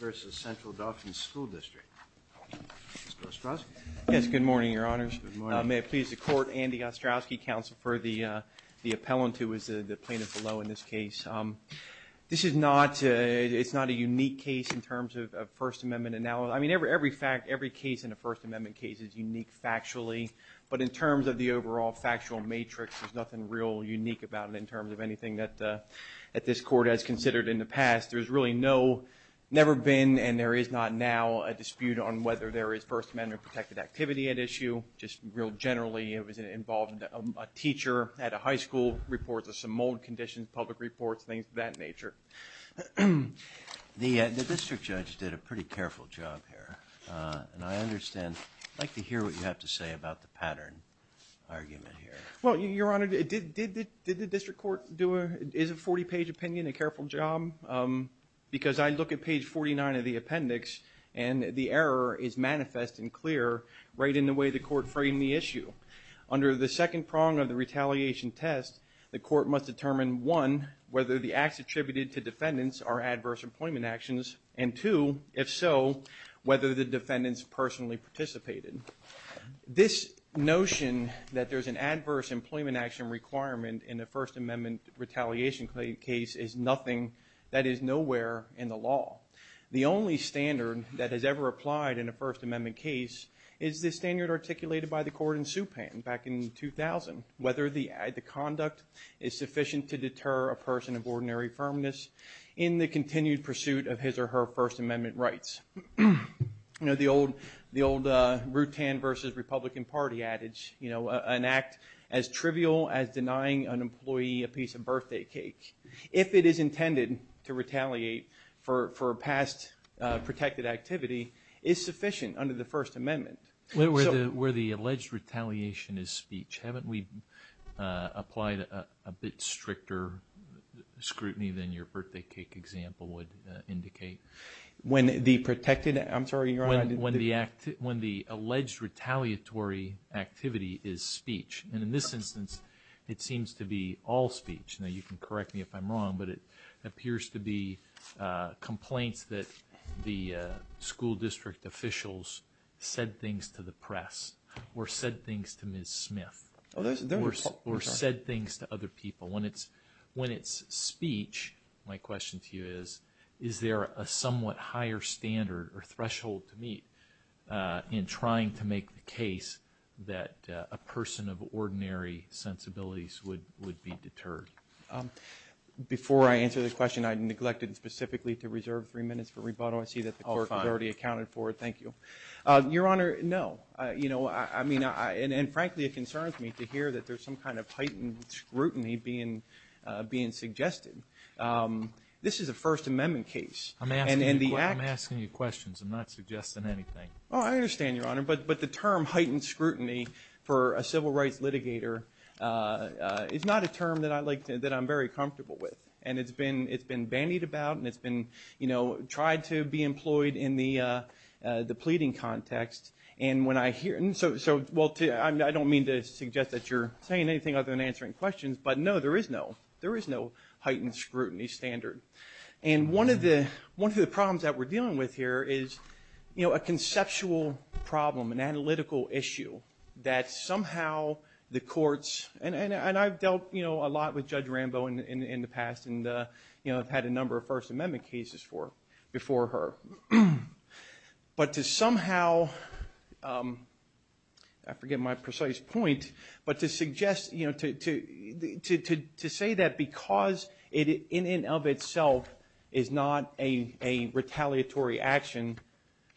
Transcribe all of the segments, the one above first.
versus Central Dauphin School District. Mr. Ostrowski. Yes, good morning, your honors. May it please the court, Andy Ostrowski, counsel for the appellant who is the plaintiff below in this case. This is not, it's not a unique case in terms of First Amendment analysis. I mean, every fact, every case in a First Amendment case is unique factually, but in terms of the overall factual matrix, there's nothing real unique about it in terms of anything that this court has considered in the past. There's really no, never been, and there is not now, a dispute on whether there is First Amendment protected activity at issue. Just real generally, it was involved a teacher at a high school, reports of some mold conditions, public reports, things of that nature. The district judge did a pretty careful job here, and I understand, I'd like to hear what you have to say about the pattern argument here. Well, your honor, did the district court do a, is a 40-page opinion a careful job? Because I look at page 49 of the appendix, and the error is manifest and clear right in the way the court framed the issue. Under the second prong of the retaliation test, the court must determine, one, whether the acts attributed to defendants are adverse employment actions, and two, if so, whether the defendants personally participated. This notion that there's an adverse employment action requirement in the First Amendment retaliation case is nothing that is nowhere in the law. The only standard that has ever applied in a First Amendment case is the standard articulated by the court in Supan back in 2000, whether the act, the conduct, is sufficient to deter a person of ordinary firmness in the continued pursuit of his or her First Amendment rights. You know, the old, the old Rutan versus Republican party adage, you know, an act as trivial as denying an employee a piece of birthday cake, if it is intended to retaliate for, for a past protected activity, is sufficient under the First Amendment. Where the, where the alleged retaliation is speech. Haven't we applied a bit stricter scrutiny than your birthday cake example would indicate? When the protected, I'm sorry, your honor. When the act, when the alleged retaliatory activity is speech, and in this instance it seems to be all speech. Now you can correct me if I'm wrong, but it appears to be complaints that the school district officials said things to the press, or said things to Ms. Smith, or said things to other people. When it's, when it's speech, my question to you is, is there a somewhat higher standard or threshold to meet in trying to make the case that a person of ordinary sensibilities would, would be deterred? Before I answer the question, I neglected specifically to reserve three minutes for rebuttal. I see that the clerk already accounted for it. Thank you. Your honor, no. You know, I mean, I, and frankly, it concerns me to hear that there's some kind of heightened scrutiny being, being suggested. This is a First Amendment case. I'm asking you a question. I'm not suggesting anything. Oh, I understand, your honor, but, but the term heightened scrutiny for a civil rights litigator is not a term that I like to, that I'm very comfortable with. And it's been, it's been bandied about, and it's been, you know, tried to be employed in the, the pleading context. And when I hear, and so, so, well, I don't mean to suggest that you're saying anything other than answering questions, but no, there is no, there is no heightened scrutiny standard. And one of the, one of the problems that we're dealing with here is, you know, a conceptual problem, an analytical issue that somehow the courts, and, and, and I've dealt, you know, a lot with Judge Rambo in, in the past, and, you know, I've had a number of First Amendment cases for, before her. But to somehow, I forget my precise point, but to suggest, you know, to, to, to, to, to say that because it, in, in of itself is not a, a retaliatory action,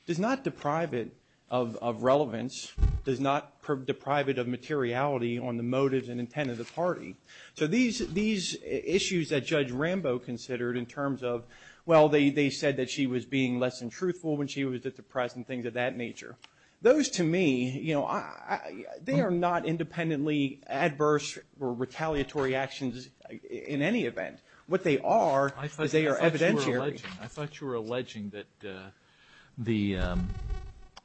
does not deprive it of, of relevance, does not deprive it of materiality on the motives and intent of the party. So these, these issues that Judge Rambo considered in terms of, well, they, they said that she was being less than truthful when she was at the press, and things of that nature. Those, to me, you know, I, they are not independently adverse or retaliatory actions in any event. What they are, is they are evidentiary. I thought you were alleging, I thought you were alleging that the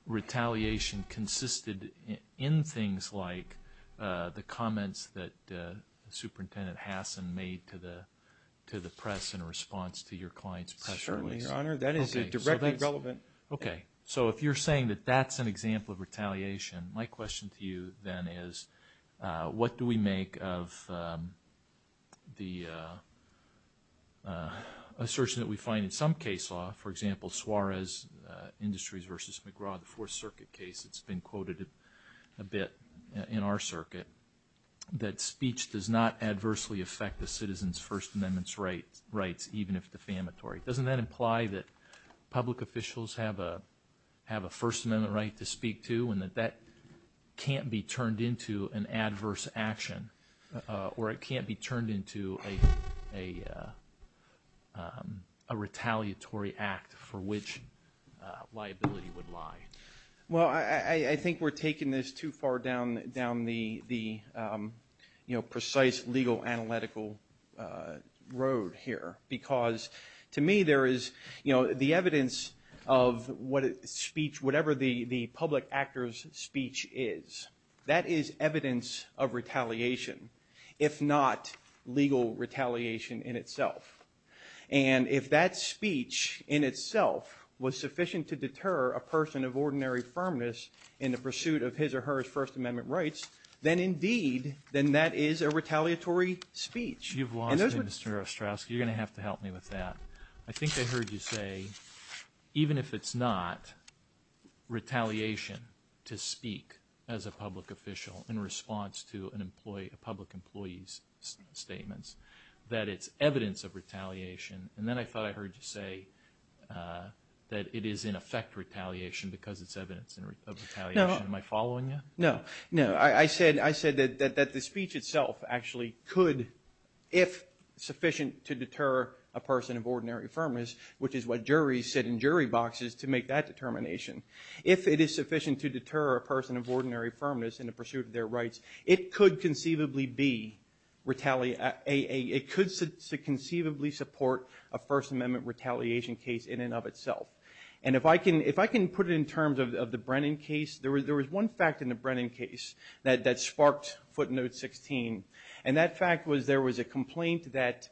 retaliation consisted in things like the comments that Superintendent Hassan made to the, to the press in response to your client's press release. Certainly, Your Honor, that is directly relevant. Okay, so if you're saying that that's an example of retaliation, my question to you then is, what do we make of the assertion that we find in some case law, for example, Suarez Industries v. McGraw, the Fourth Circuit case, it's been quoted a bit in our circuit, that speech does not adversely affect the citizens First Amendment's rights, rights even if defamatory. Doesn't that imply that public officials have a, have a First Amendment right to speak to, and that that can't be turned into an or it can't be turned into a, a, a retaliatory act for which liability would lie? Well, I, I think we're taking this too far down, down the, the, you know, precise legal analytical road here, because to me there is, you know, the evidence of what speech, whatever the, the public actor's speech is, that is evidence of retaliation, if not legal retaliation in itself. And if that speech in itself was sufficient to deter a person of ordinary firmness in the pursuit of his or her First Amendment rights, then indeed, then that is a retaliatory speech. You've lost me, Mr. Ostrowski. You're gonna have to help me with that. I think I heard you say, even if it's not retaliation to speak as a response to an employee, a public employee's statements, that it's evidence of retaliation, and then I thought I heard you say that it is in effect retaliation because it's evidence of retaliation. No. Am I following you? No, no. I said, I said that, that the speech itself actually could, if sufficient to deter a person of ordinary firmness, which is what juries sit in jury boxes to make that determination, if it is sufficient to deter a person of ordinary firmness in pursuit of their rights, it could conceivably be retaliate, it could conceivably support a First Amendment retaliation case in and of itself. And if I can, if I can put it in terms of the Brennan case, there was, there was one fact in the Brennan case that, that sparked footnote 16, and that fact was there was a complaint that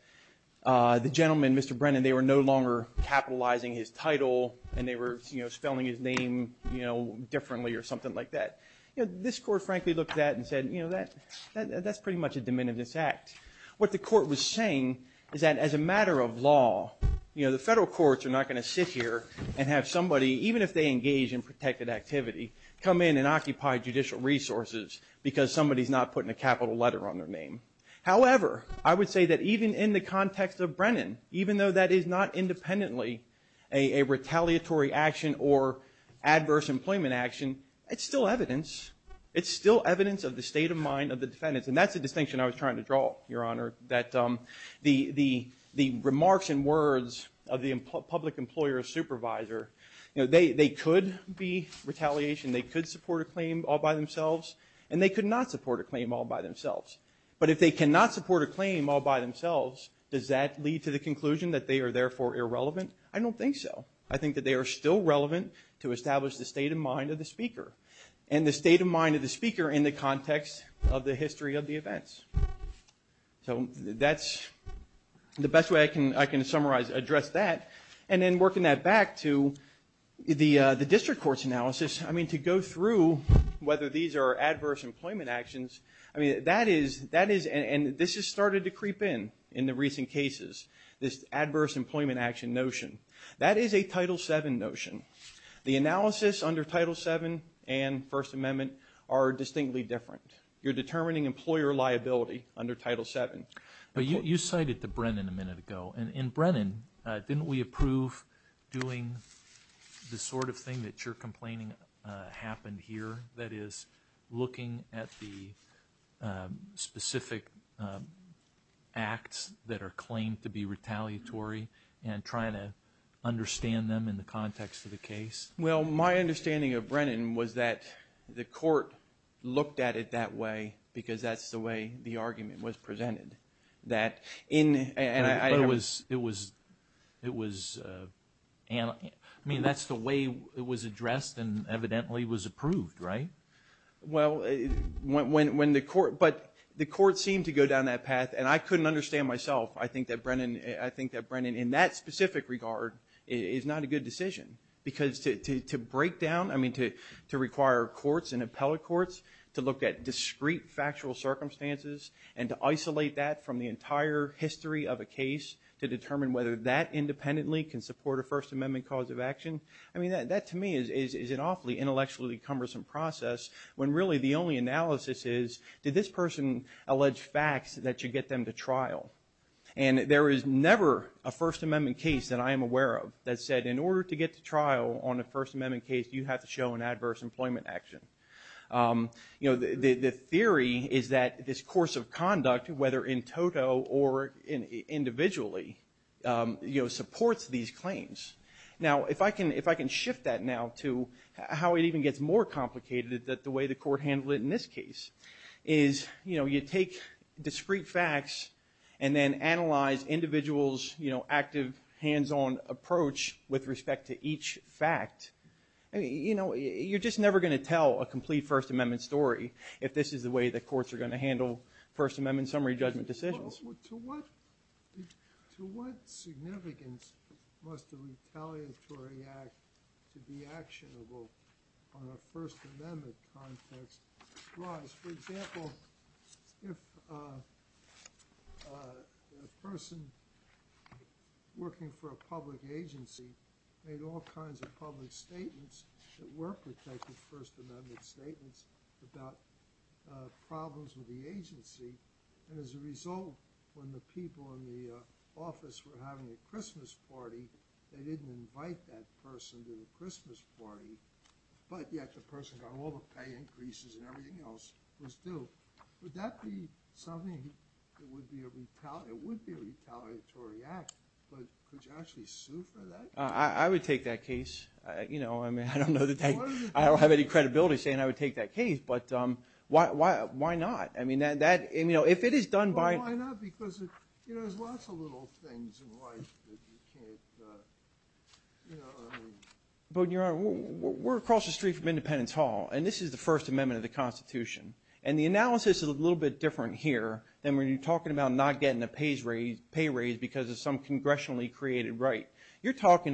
the gentleman, Mr. Brennan, they were no longer capitalizing his title, and they were, you know, spelling his name, you know, differently or something like that. This court, frankly, looked at it and said, you know, that, that's pretty much a diminutive act. What the court was saying is that as a matter of law, you know, the federal courts are not going to sit here and have somebody, even if they engage in protected activity, come in and occupy judicial resources because somebody's not putting a capital letter on their name. However, I would say that even in the context of Brennan, even though that is not independently a retaliatory action or adverse employment action, it's still evidence. It's still evidence of the state of mind of the defendants, and that's the distinction I was trying to draw, Your Honor, that the, the, the remarks and words of the public employer or supervisor, you know, they, they could be retaliation, they could support a claim all by themselves, and they could not support a claim all by themselves. But if they cannot support a claim all by themselves, does that lead to the conclusion that they are therefore irrelevant? I don't think so. I think that they are still relevant to establish the state of mind of the speaker, and the state of mind of the speaker in the context of the history of the events. So that's the best way I can, I can summarize, address that. And then working that back to the, the district court's analysis, I mean, to go through whether these are adverse employment actions, I started to creep in, in the recent cases, this adverse employment action notion. That is a Title VII notion. The analysis under Title VII and First Amendment are distinctly different. You're determining employer liability under Title VII. But you, you cited to Brennan a minute ago, and in Brennan, didn't we approve doing the sort of thing that you're complaining happened here, that is, looking at the specific acts that are claimed to be retaliatory, and trying to understand them in the context of the case? Well, my understanding of Brennan was that the court looked at it that way, because that's the way the argument was presented. That in, and I was, it was, it was, and I mean, that's the way it was presented. Well, when, when the court, but the court seemed to go down that path, and I couldn't understand myself. I think that Brennan, I think that Brennan, in that specific regard, is not a good decision. Because to, to, to break down, I mean, to, to require courts and appellate courts to look at discrete factual circumstances, and to isolate that from the entire history of a case, to determine whether that independently can support a First Amendment cause of action. I mean, that, that to me is, is, is an awfully intellectually cumbersome process, when really the only analysis is, did this person allege facts that should get them to trial? And there is never a First Amendment case that I am aware of that said, in order to get to trial on a First Amendment case, you have to show an adverse employment action. You know, the, the, the theory is that this course of conduct, whether in toto or in, individually, you know, supports these I mean, to shift that now to how it even gets more complicated that the way the court handled it in this case is, you know, you take discrete facts and then analyze individuals, you know, active hands-on approach with respect to each fact. I mean, you know, you're just never going to tell a complete First Amendment story if this is the way the courts are going to handle First Amendment summary judgment decisions. To what, to what significance must a retaliatory act to be actionable on a First Amendment context rise? For example, if a person working for a public agency made all kinds of public statements that were protected, First Amendment statements, about problems with the agency, and as a result when the people in the office were having a Christmas party, they didn't invite that person to the Christmas party, but yet the person got all the pay increases and everything else was due, would that be something that would be a retaliatory, it would be a retaliatory act, but could you actually sue for that? I would take that case, you know, I mean, I don't know, I don't have any credibility saying I would take that case, but why not? I mean, that, you know, if it is done by... Well, why not, because, you know, there's lots of little things in life that you can't, you know, I mean... But, Your Honor, we're across the street from Independence Hall, and this is the First Amendment of the Constitution, and the analysis is a little bit different here than when you're talking about not getting a pay raise because of some legislation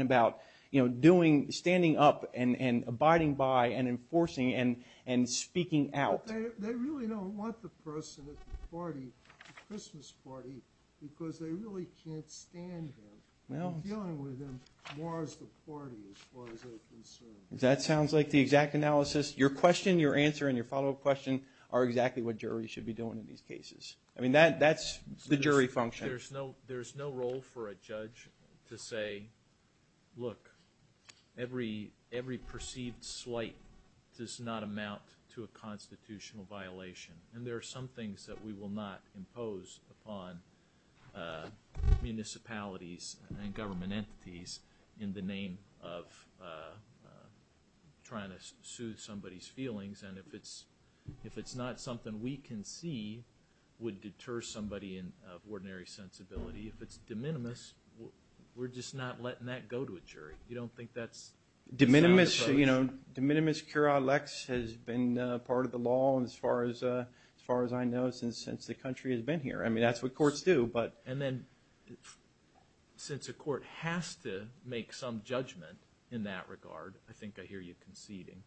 about, you know, doing, standing up, and abiding by, and enforcing, and speaking out. They really don't want the person at the party, the Christmas party, because they really can't stand him. Well... I'm dealing with him more as the party, as far as they're concerned. That sounds like the exact analysis, your question, your answer, and your follow-up question are exactly what juries should be doing in these cases. I mean, that's the jury function. I think there's no role for a judge to say, look, every perceived slight does not amount to a constitutional violation. And there are some things that we will not impose upon municipalities and government entities in the name of trying to soothe somebody's feelings. And if it's not something we can see would deter somebody of ordinary sensibility, if it's de minimis, we're just not letting that go to a jury. You don't think that's... De minimis cura lex has been part of the law as far as I know since the country has been here. I mean, that's what courts do, but... And then, since a court has to make some judgment in that regard, I think I hear you conceding,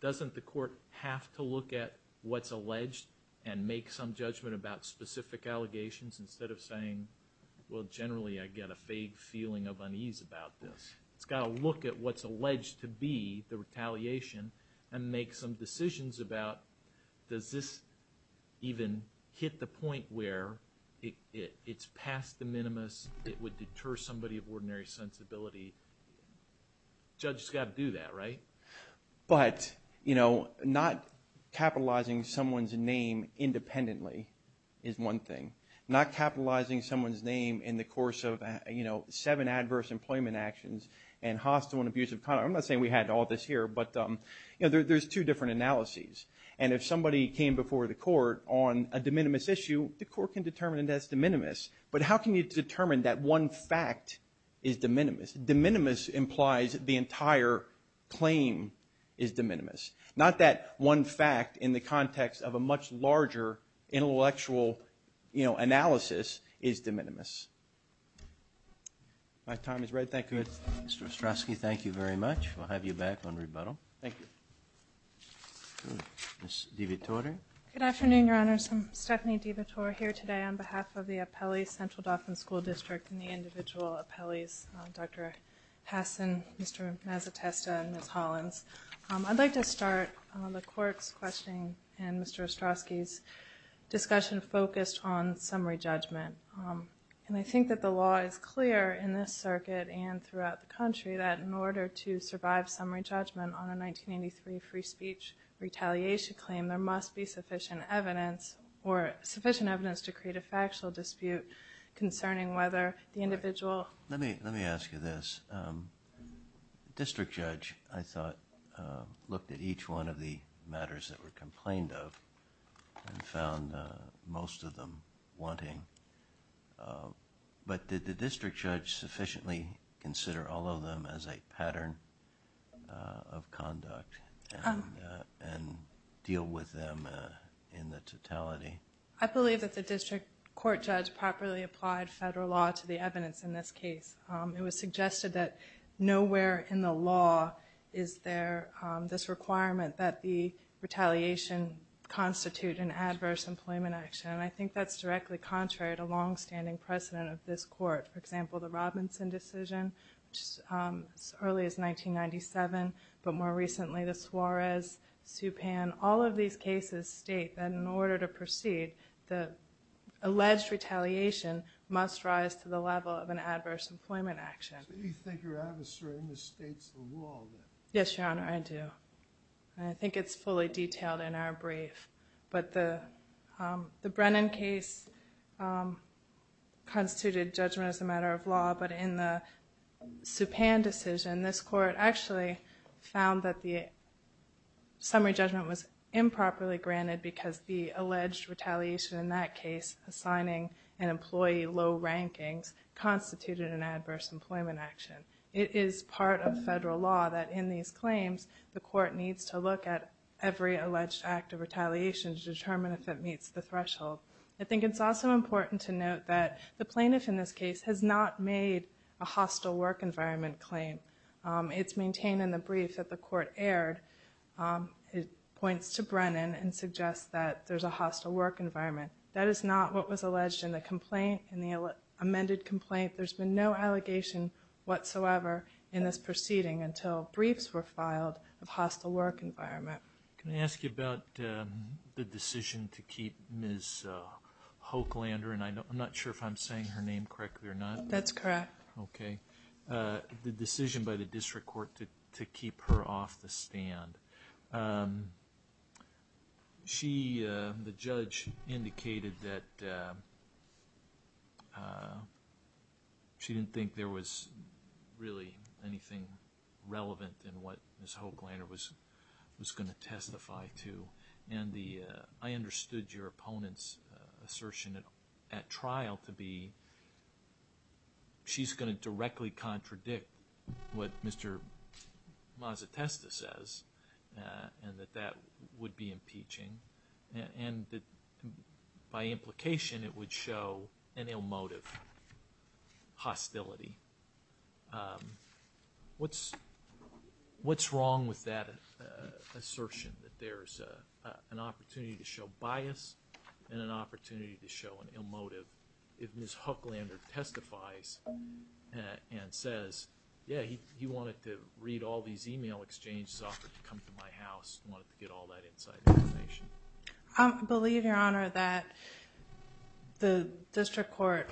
doesn't the court have to look at what's alleged and make some judgment about specific allegations instead of saying, well, generally I get a vague feeling of unease about this? It's got to look at what's alleged to be the retaliation and make some decisions about does this even hit the point where it's past de minimis, it would deter somebody of ordinary sensibility. Judges got to do that, right? But not capitalizing someone's name independently is one thing. Not capitalizing someone's name in the course of seven adverse employment actions and hostile and abusive conduct. I'm not saying we had all this here, but there's two different analyses. And if somebody came before the court on a de minimis issue, the court can determine that's de minimis. But how can you determine that one fact is de minimis? De minimis implies the entire claim is de minimis. Not that one fact in the context of a much larger intellectual analysis is de minimis. My time is right. Thank you. Mr. Ostrowski, thank you very much. We'll have you back on rebuttal. Thank you. Ms. DeVitore. Good afternoon, Your Honors. I'm Stephanie DeVitore here today on behalf of the Appellee Central Dauphin School District and the individual appellees, Dr. Hasson, Mr. Mazetesta, and Ms. Hollins. I'd like to start the court's questioning and Mr. Ostrowski's discussion focused on summary judgment. And I think that the law is clear in this circuit and throughout the country that in order to survive summary judgment on a 1983 free speech retaliation claim, there must be sufficient evidence or sufficient evidence to create a factual dispute concerning whether the individual. Let me ask you this. The district judge, I thought, looked at each one of the matters that were complained of and found most of them wanting. But did the district judge sufficiently consider all of them as a pattern of conduct and deal with them in the totality? I believe that the district court judge properly applied federal law to the evidence in this case. It was suggested that nowhere in the law is there this requirement that the retaliation constitute an adverse employment action. And I think that's directly contrary to longstanding precedent of this court. For example, the Robinson decision, which is as early as 1997, but more recently the Suarez, Supan. All of these cases state that in order to proceed, the alleged retaliation must rise to the level of an adverse employment action. So you think you're adversarying the state's law then? Yes, Your Honor, I do. And I think it's fully detailed in our brief. But the Brennan case constituted judgment as a matter of law. But in the Supan decision, this court actually found that the summary judgment was improperly granted because the alleged retaliation in that case, assigning an employee low rankings, constituted an adverse employment action. It is part of federal law that in these claims, the court needs to look at every alleged act of retaliation to determine if it meets the threshold. I think it's also important to note that the plaintiff in this case has not made a hostile work environment claim. It's maintained in the brief that the court aired. It points to Brennan and suggests that there's a hostile work environment. That is not what was alleged in the complaint, in the amended complaint. There's been no allegation whatsoever in this proceeding until briefs were filed of hostile work environment. Can I ask you about the decision to keep Ms. Hochlander, and I'm not sure if I'm saying her name correctly or not. That's correct. Okay. The decision by the district court to keep her off the stand. She, the judge, indicated that she didn't think there was really anything relevant in what Ms. Hochlander was going to testify to. I understood your opponent's assertion at trial to be she's going to directly contradict what Mr. Mazetesta says, and that that would be impeaching, and that by implication it would show an ill motive, hostility. What's wrong with that assertion, that there's an opportunity to show bias and an opportunity to show an ill motive if Ms. Hochlander testifies and says, yeah, he wanted to read all these email exchanges offered to come to my house. He wanted to get all that inside information. I believe, Your Honor, that the district court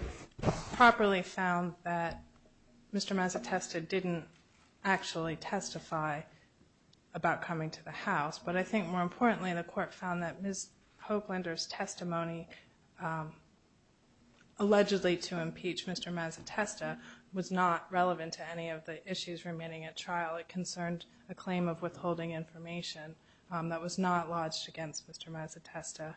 properly found that Mr. Mazetesta didn't actually testify about coming to the house, but I think more importantly the court found that Ms. Hochlander's testimony allegedly to impeach Mr. Mazetesta was not relevant to any of the issues remaining at trial. It concerned a claim of withholding information that was not lodged against Mr. Mazetesta.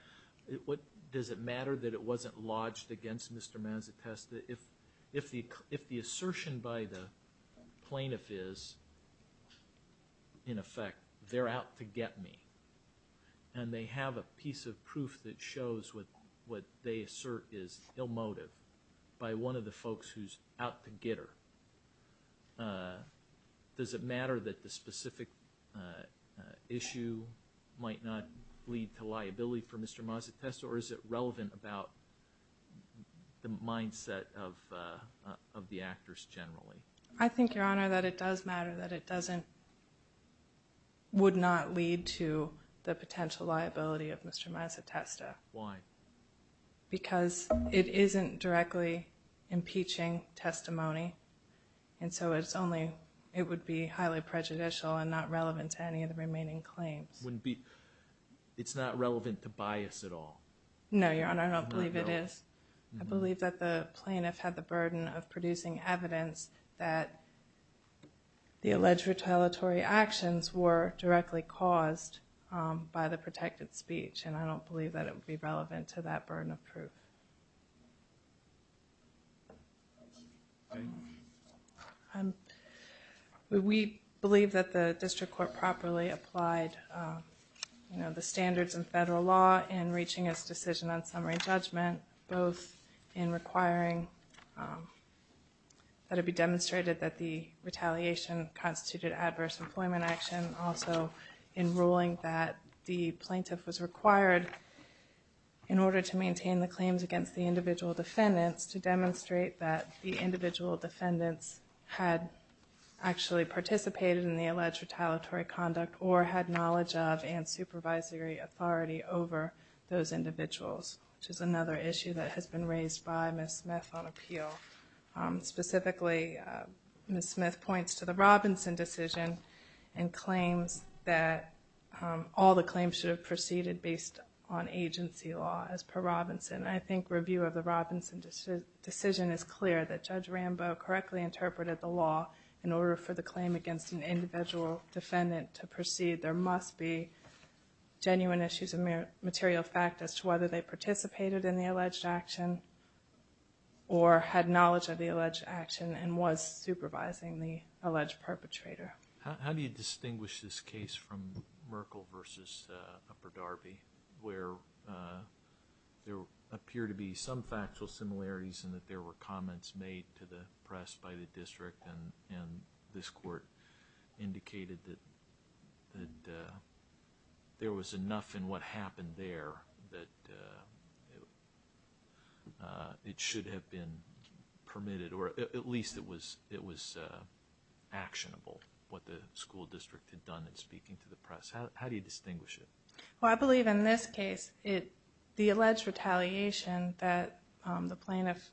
Does it matter that it wasn't lodged against Mr. Mazetesta? If the assertion by the plaintiff is, in effect, they're out to get me, and they have a piece of proof that shows what they assert is ill motive by one of the folks who's out to get her, does it matter that the specific issue might not lead to liability for Mr. Mazetesta, or is it relevant about the mindset of the actors generally? I think, Your Honor, that it does matter, that it doesn't, would not lead to the potential liability of Mr. Mazetesta. Why? Because it isn't directly impeaching testimony, and so it's only, it would be highly prejudicial and not relevant to any of the remaining claims. Wouldn't be, it's not relevant to bias at all? No, Your Honor, I don't believe it is. I believe that the plaintiff had the burden of producing evidence that the alleged retaliatory actions were directly caused by the protected speech, and I don't believe that it would be relevant to that burden of proof. We believe that the district court properly applied, you know, the standards in federal law in reaching its decision on summary judgment, both in requiring that it be demonstrated that the retaliation constituted adverse employment action, also in ruling that the plaintiff was required, in order to maintain the claims against the individual defendants, to demonstrate that the individual defendants had actually participated in the alleged retaliatory conduct, or had knowledge of and supervisory authority over those individuals, which is another issue that has been raised by Ms. Smith on appeal. Specifically, Ms. Smith points to the Robinson decision, and claims that all the claims should have proceeded based on agency law, as per Robinson. I think review of the Robinson decision is clear, that Judge Rambo correctly interpreted the law, in order for the claim against an individual defendant to proceed, there must be genuine issues of material fact as to whether they participated in the alleged action, or had knowledge of the alleged action, and was supervising the alleged perpetrator. How do you distinguish this case from Merkle v. Upper Darby, where there appear to be some factual similarities, and that there were comments made to the press by the district, and this court indicated that there was enough in what happened there, that it should have been permitted, or at least it was actionable, what the school district had done in speaking to the press. How do you distinguish it? Well, I believe in this case, the alleged retaliation that the plaintiff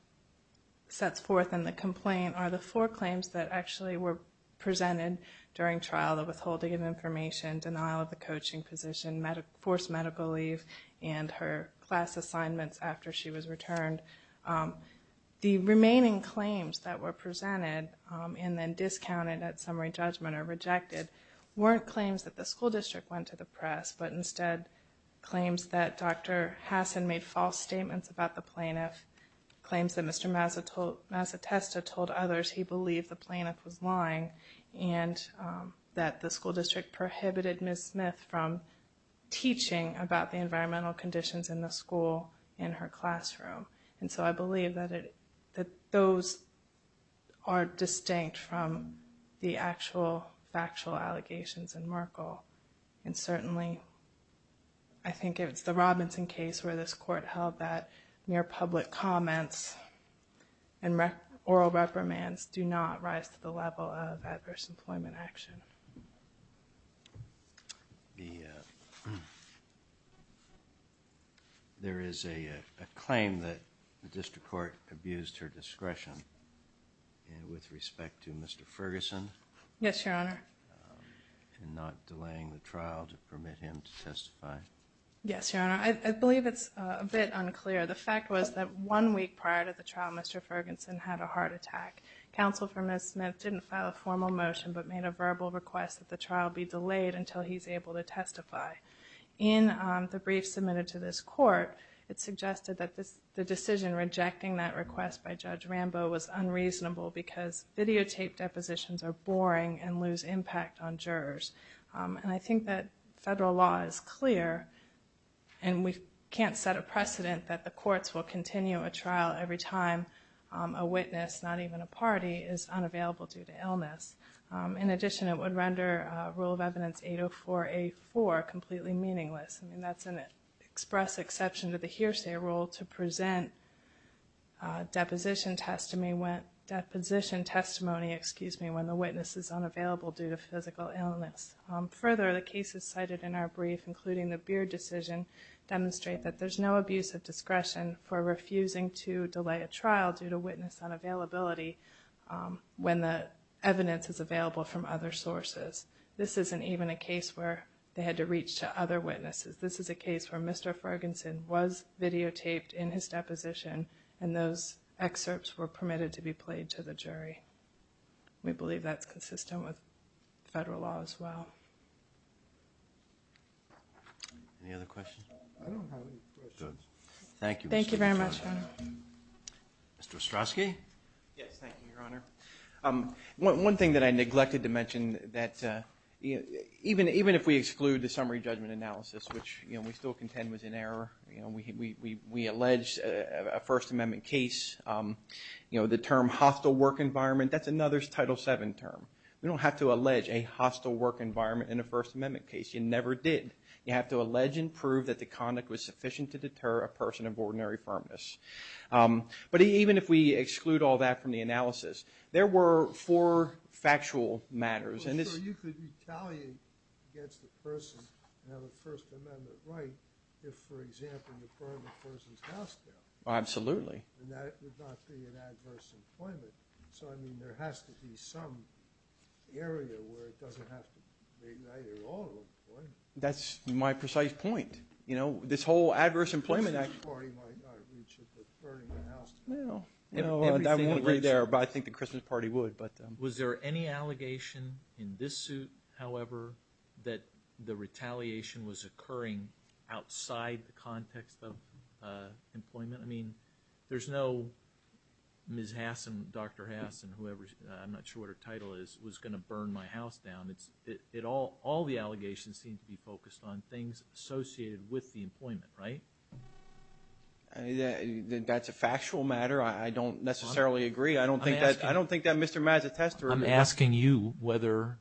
sets forth in the complaint, are the four claims that actually were presented during trial, the withholding of information, denial of the coaching position, forced medical leave, and her class assignments after she was returned. The remaining claims that were presented, and then discounted at summary judgment, weren't claims that the school district went to the press, but instead claims that Dr. Hassan made false statements about the plaintiff, claims that Mr. Mazetesta told others he believed the plaintiff was lying, and that the school district prohibited Ms. Smith from teaching about the environmental conditions in the school in her classroom. And so I believe that those are distinct from the actual factual allegations in Merkle, and certainly I think it's the Robinson case where this court held that mere public comments and oral reprimands do not rise to the level of adverse employment action. There is a claim that the district court abused her discretion with respect to Mr. Ferguson. Yes, Your Honor. In not delaying the trial to permit him to testify. Yes, Your Honor. I believe it's a bit unclear. The fact was that one week prior to the trial, Mr. Ferguson had a heart attack. Counsel for Ms. Smith didn't file a formal motion, but made a verbal request that the trial be delayed until he's able to testify. In the brief submitted to this court, it suggested that the decision rejecting that request by Judge Rambo was unreasonable because videotaped depositions are boring and lose impact on jurors. And I think that federal law is clear, and we can't set a precedent that the courts will continue a trial every time a witness, not even a party, is unavailable due to illness. In addition, it would render Rule of Evidence 804A4 completely meaningless. I mean, that's an express exception to the hearsay rule to present deposition testimony when the witness is unavailable due to physical illness. Further, the cases cited in our brief, including the Beard decision, demonstrate that there's no abuse of discretion for refusing to delay a trial due to witness unavailability when the evidence is available from other sources. This isn't even a case where they had to reach to other witnesses. This is a case where Mr. Ferguson was videotaped in his deposition, and those excerpts were permitted to be played to the jury. We believe that's consistent with federal law as well. Any other questions? I don't have any questions. Thank you, Mr. Attorney. Thank you very much, Your Honor. Mr. Ostrowski? Yes, thank you, Your Honor. One thing that I neglected to mention, that even if we exclude the summary judgment analysis, which we still contend was in error, we allege a First Amendment case, the term hostile work environment, that's another Title VII term. We don't have to allege a hostile work environment in a First Amendment case. You never did. You have to allege and prove that the conduct was sufficient to deter a person of ordinary firmness. But even if we exclude all that from the analysis, there were four factual matters. I'm not sure you could retaliate against a person and have a First Amendment right if, for example, you burned a person's house down. Absolutely. And that would not be an adverse employment. So, I mean, there has to be some area where it doesn't have to be neither or employment. That's my precise point. You know, this whole adverse employment act. Christmas party might not reach it, but burning a house down. Well, you know, that won't be there, but I think the Christmas party would. Was there any allegation in this suit, however, that the retaliation was occurring outside the context of employment? I mean, there's no Ms. Hasson, Dr. Hasson, whoever's, I'm not sure what her title is, was going to burn my house down. All the allegations seem to be focused on things associated with the employment, right? That's a factual matter. I don't necessarily agree. I don't think that Mr. Mazetesta. I'm asking you whether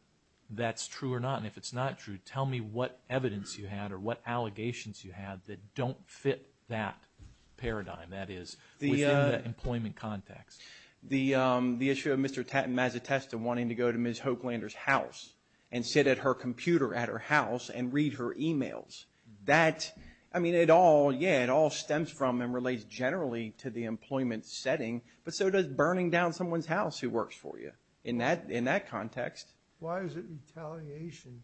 that's true or not, and if it's not true, tell me what evidence you had or what allegations you had that don't fit that paradigm, that is within the employment context. The issue of Mr. Mazetesta wanting to go to Ms. Hoaglander's house and sit at her computer at her house and read her emails. That, I mean, it all, yeah, it all stems from and relates generally to the employment setting, but so does burning down someone's house who works for you in that context. Why is it retaliation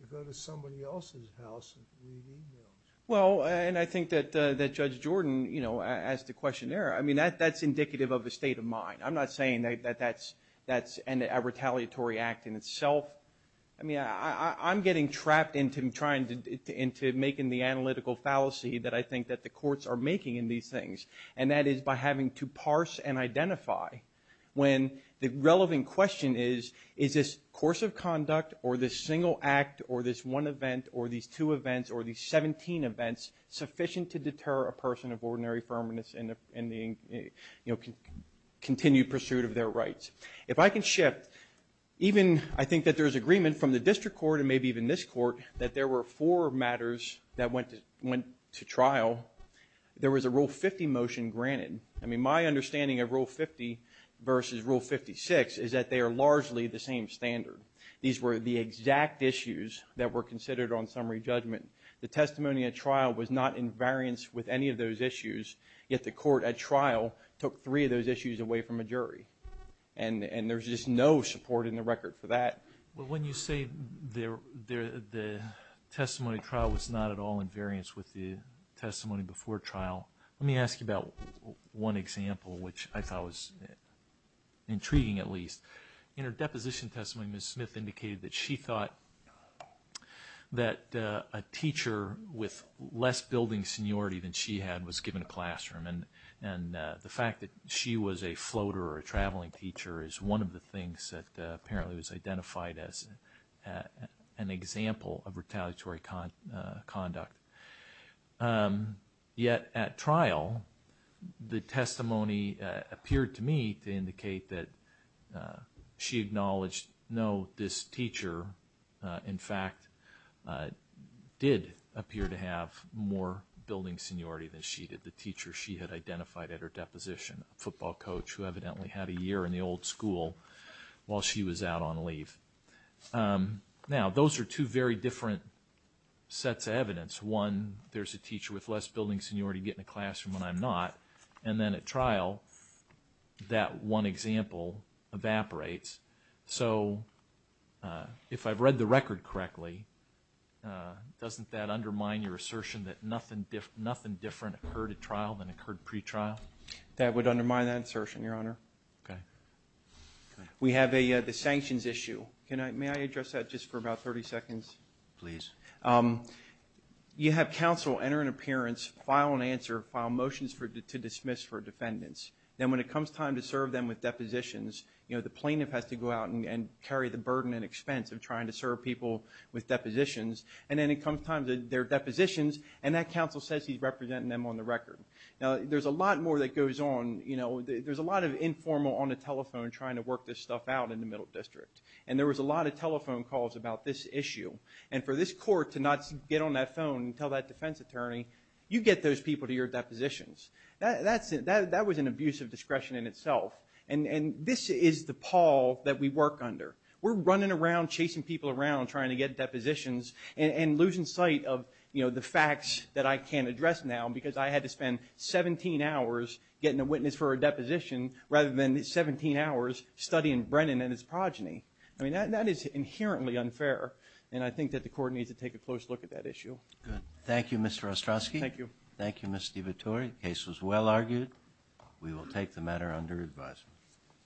to go to somebody else's house and read emails? Well, and I think that Judge Jordan asked the question there. I mean, that's indicative of a state of mind. I'm not saying that that's a retaliatory act in itself. I mean, I'm getting trapped into making the analytical fallacy that I think that the courts are making in these things, and that is by having to parse and identify when the relevant question is, is this course of conduct or this single act or this one event or these two events or these 17 events sufficient to deter a person of ordinary firmness in the continued pursuit of their rights? If I can shift, even I think that there's agreement from the district court and maybe even this court that there were four matters that went to trial. There was a Rule 50 motion granted. I mean, my understanding of Rule 50 versus Rule 56 is that they are largely the same standard. These were the exact issues that were considered on summary judgment. The testimony at trial was not in variance with any of those issues, yet the court at trial took three of those issues away from a jury, and there's just no support in the record for that. Well, when you say the testimony trial was not at all in variance with the testimony before trial, let me ask you about one example, which I thought was intriguing at least. In her deposition testimony, Ms. Smith indicated that she thought that a teacher with less building seniority than she had was given a classroom, and the fact that she was a floater or a traveling teacher is one of the things that apparently was identified as an example of retaliatory conduct. Yet at trial, the testimony appeared to me to indicate that she acknowledged, no, this teacher, in fact, did appear to have more building seniority than she did, the teacher she had identified at her deposition, a football coach who evidently had a year in the old school while she was out on leave. Now, those are two very different sets of evidence. One, there's a teacher with less building seniority getting a classroom when I'm not, and then at trial, that one example evaporates. So if I've read the record correctly, doesn't that undermine your assertion that nothing different occurred at trial than occurred pretrial? That would undermine that assertion, Your Honor. Okay. We have the sanctions issue. May I address that just for about 30 seconds? Please. You have counsel enter an appearance, file an answer, file motions to dismiss for defendants. Then when it comes time to serve them with depositions, the plaintiff has to go out and carry the burden and expense of trying to serve people with depositions, and then it comes time to their depositions, and that counsel says he's representing them on the record. Now, there's a lot more that goes on. You know, there's a lot of informal on the telephone trying to work this stuff out in the Middle District, and there was a lot of telephone calls about this issue, and for this court to not get on that phone and tell that defense attorney, you get those people to your depositions. That was an abuse of discretion in itself, and this is the pall that we work under. We're running around chasing people around trying to get depositions and losing sight of, you know, the facts that I can't address now because I had to spend 17 hours getting a witness for a deposition rather than 17 hours studying Brennan and his progeny. I mean, that is inherently unfair, and I think that the court needs to take a close look at that issue. Good. Thank you, Mr. Ostrowski. Thank you. Thank you, Ms. DiVitore. The case was well argued. We will take the matter under advisement.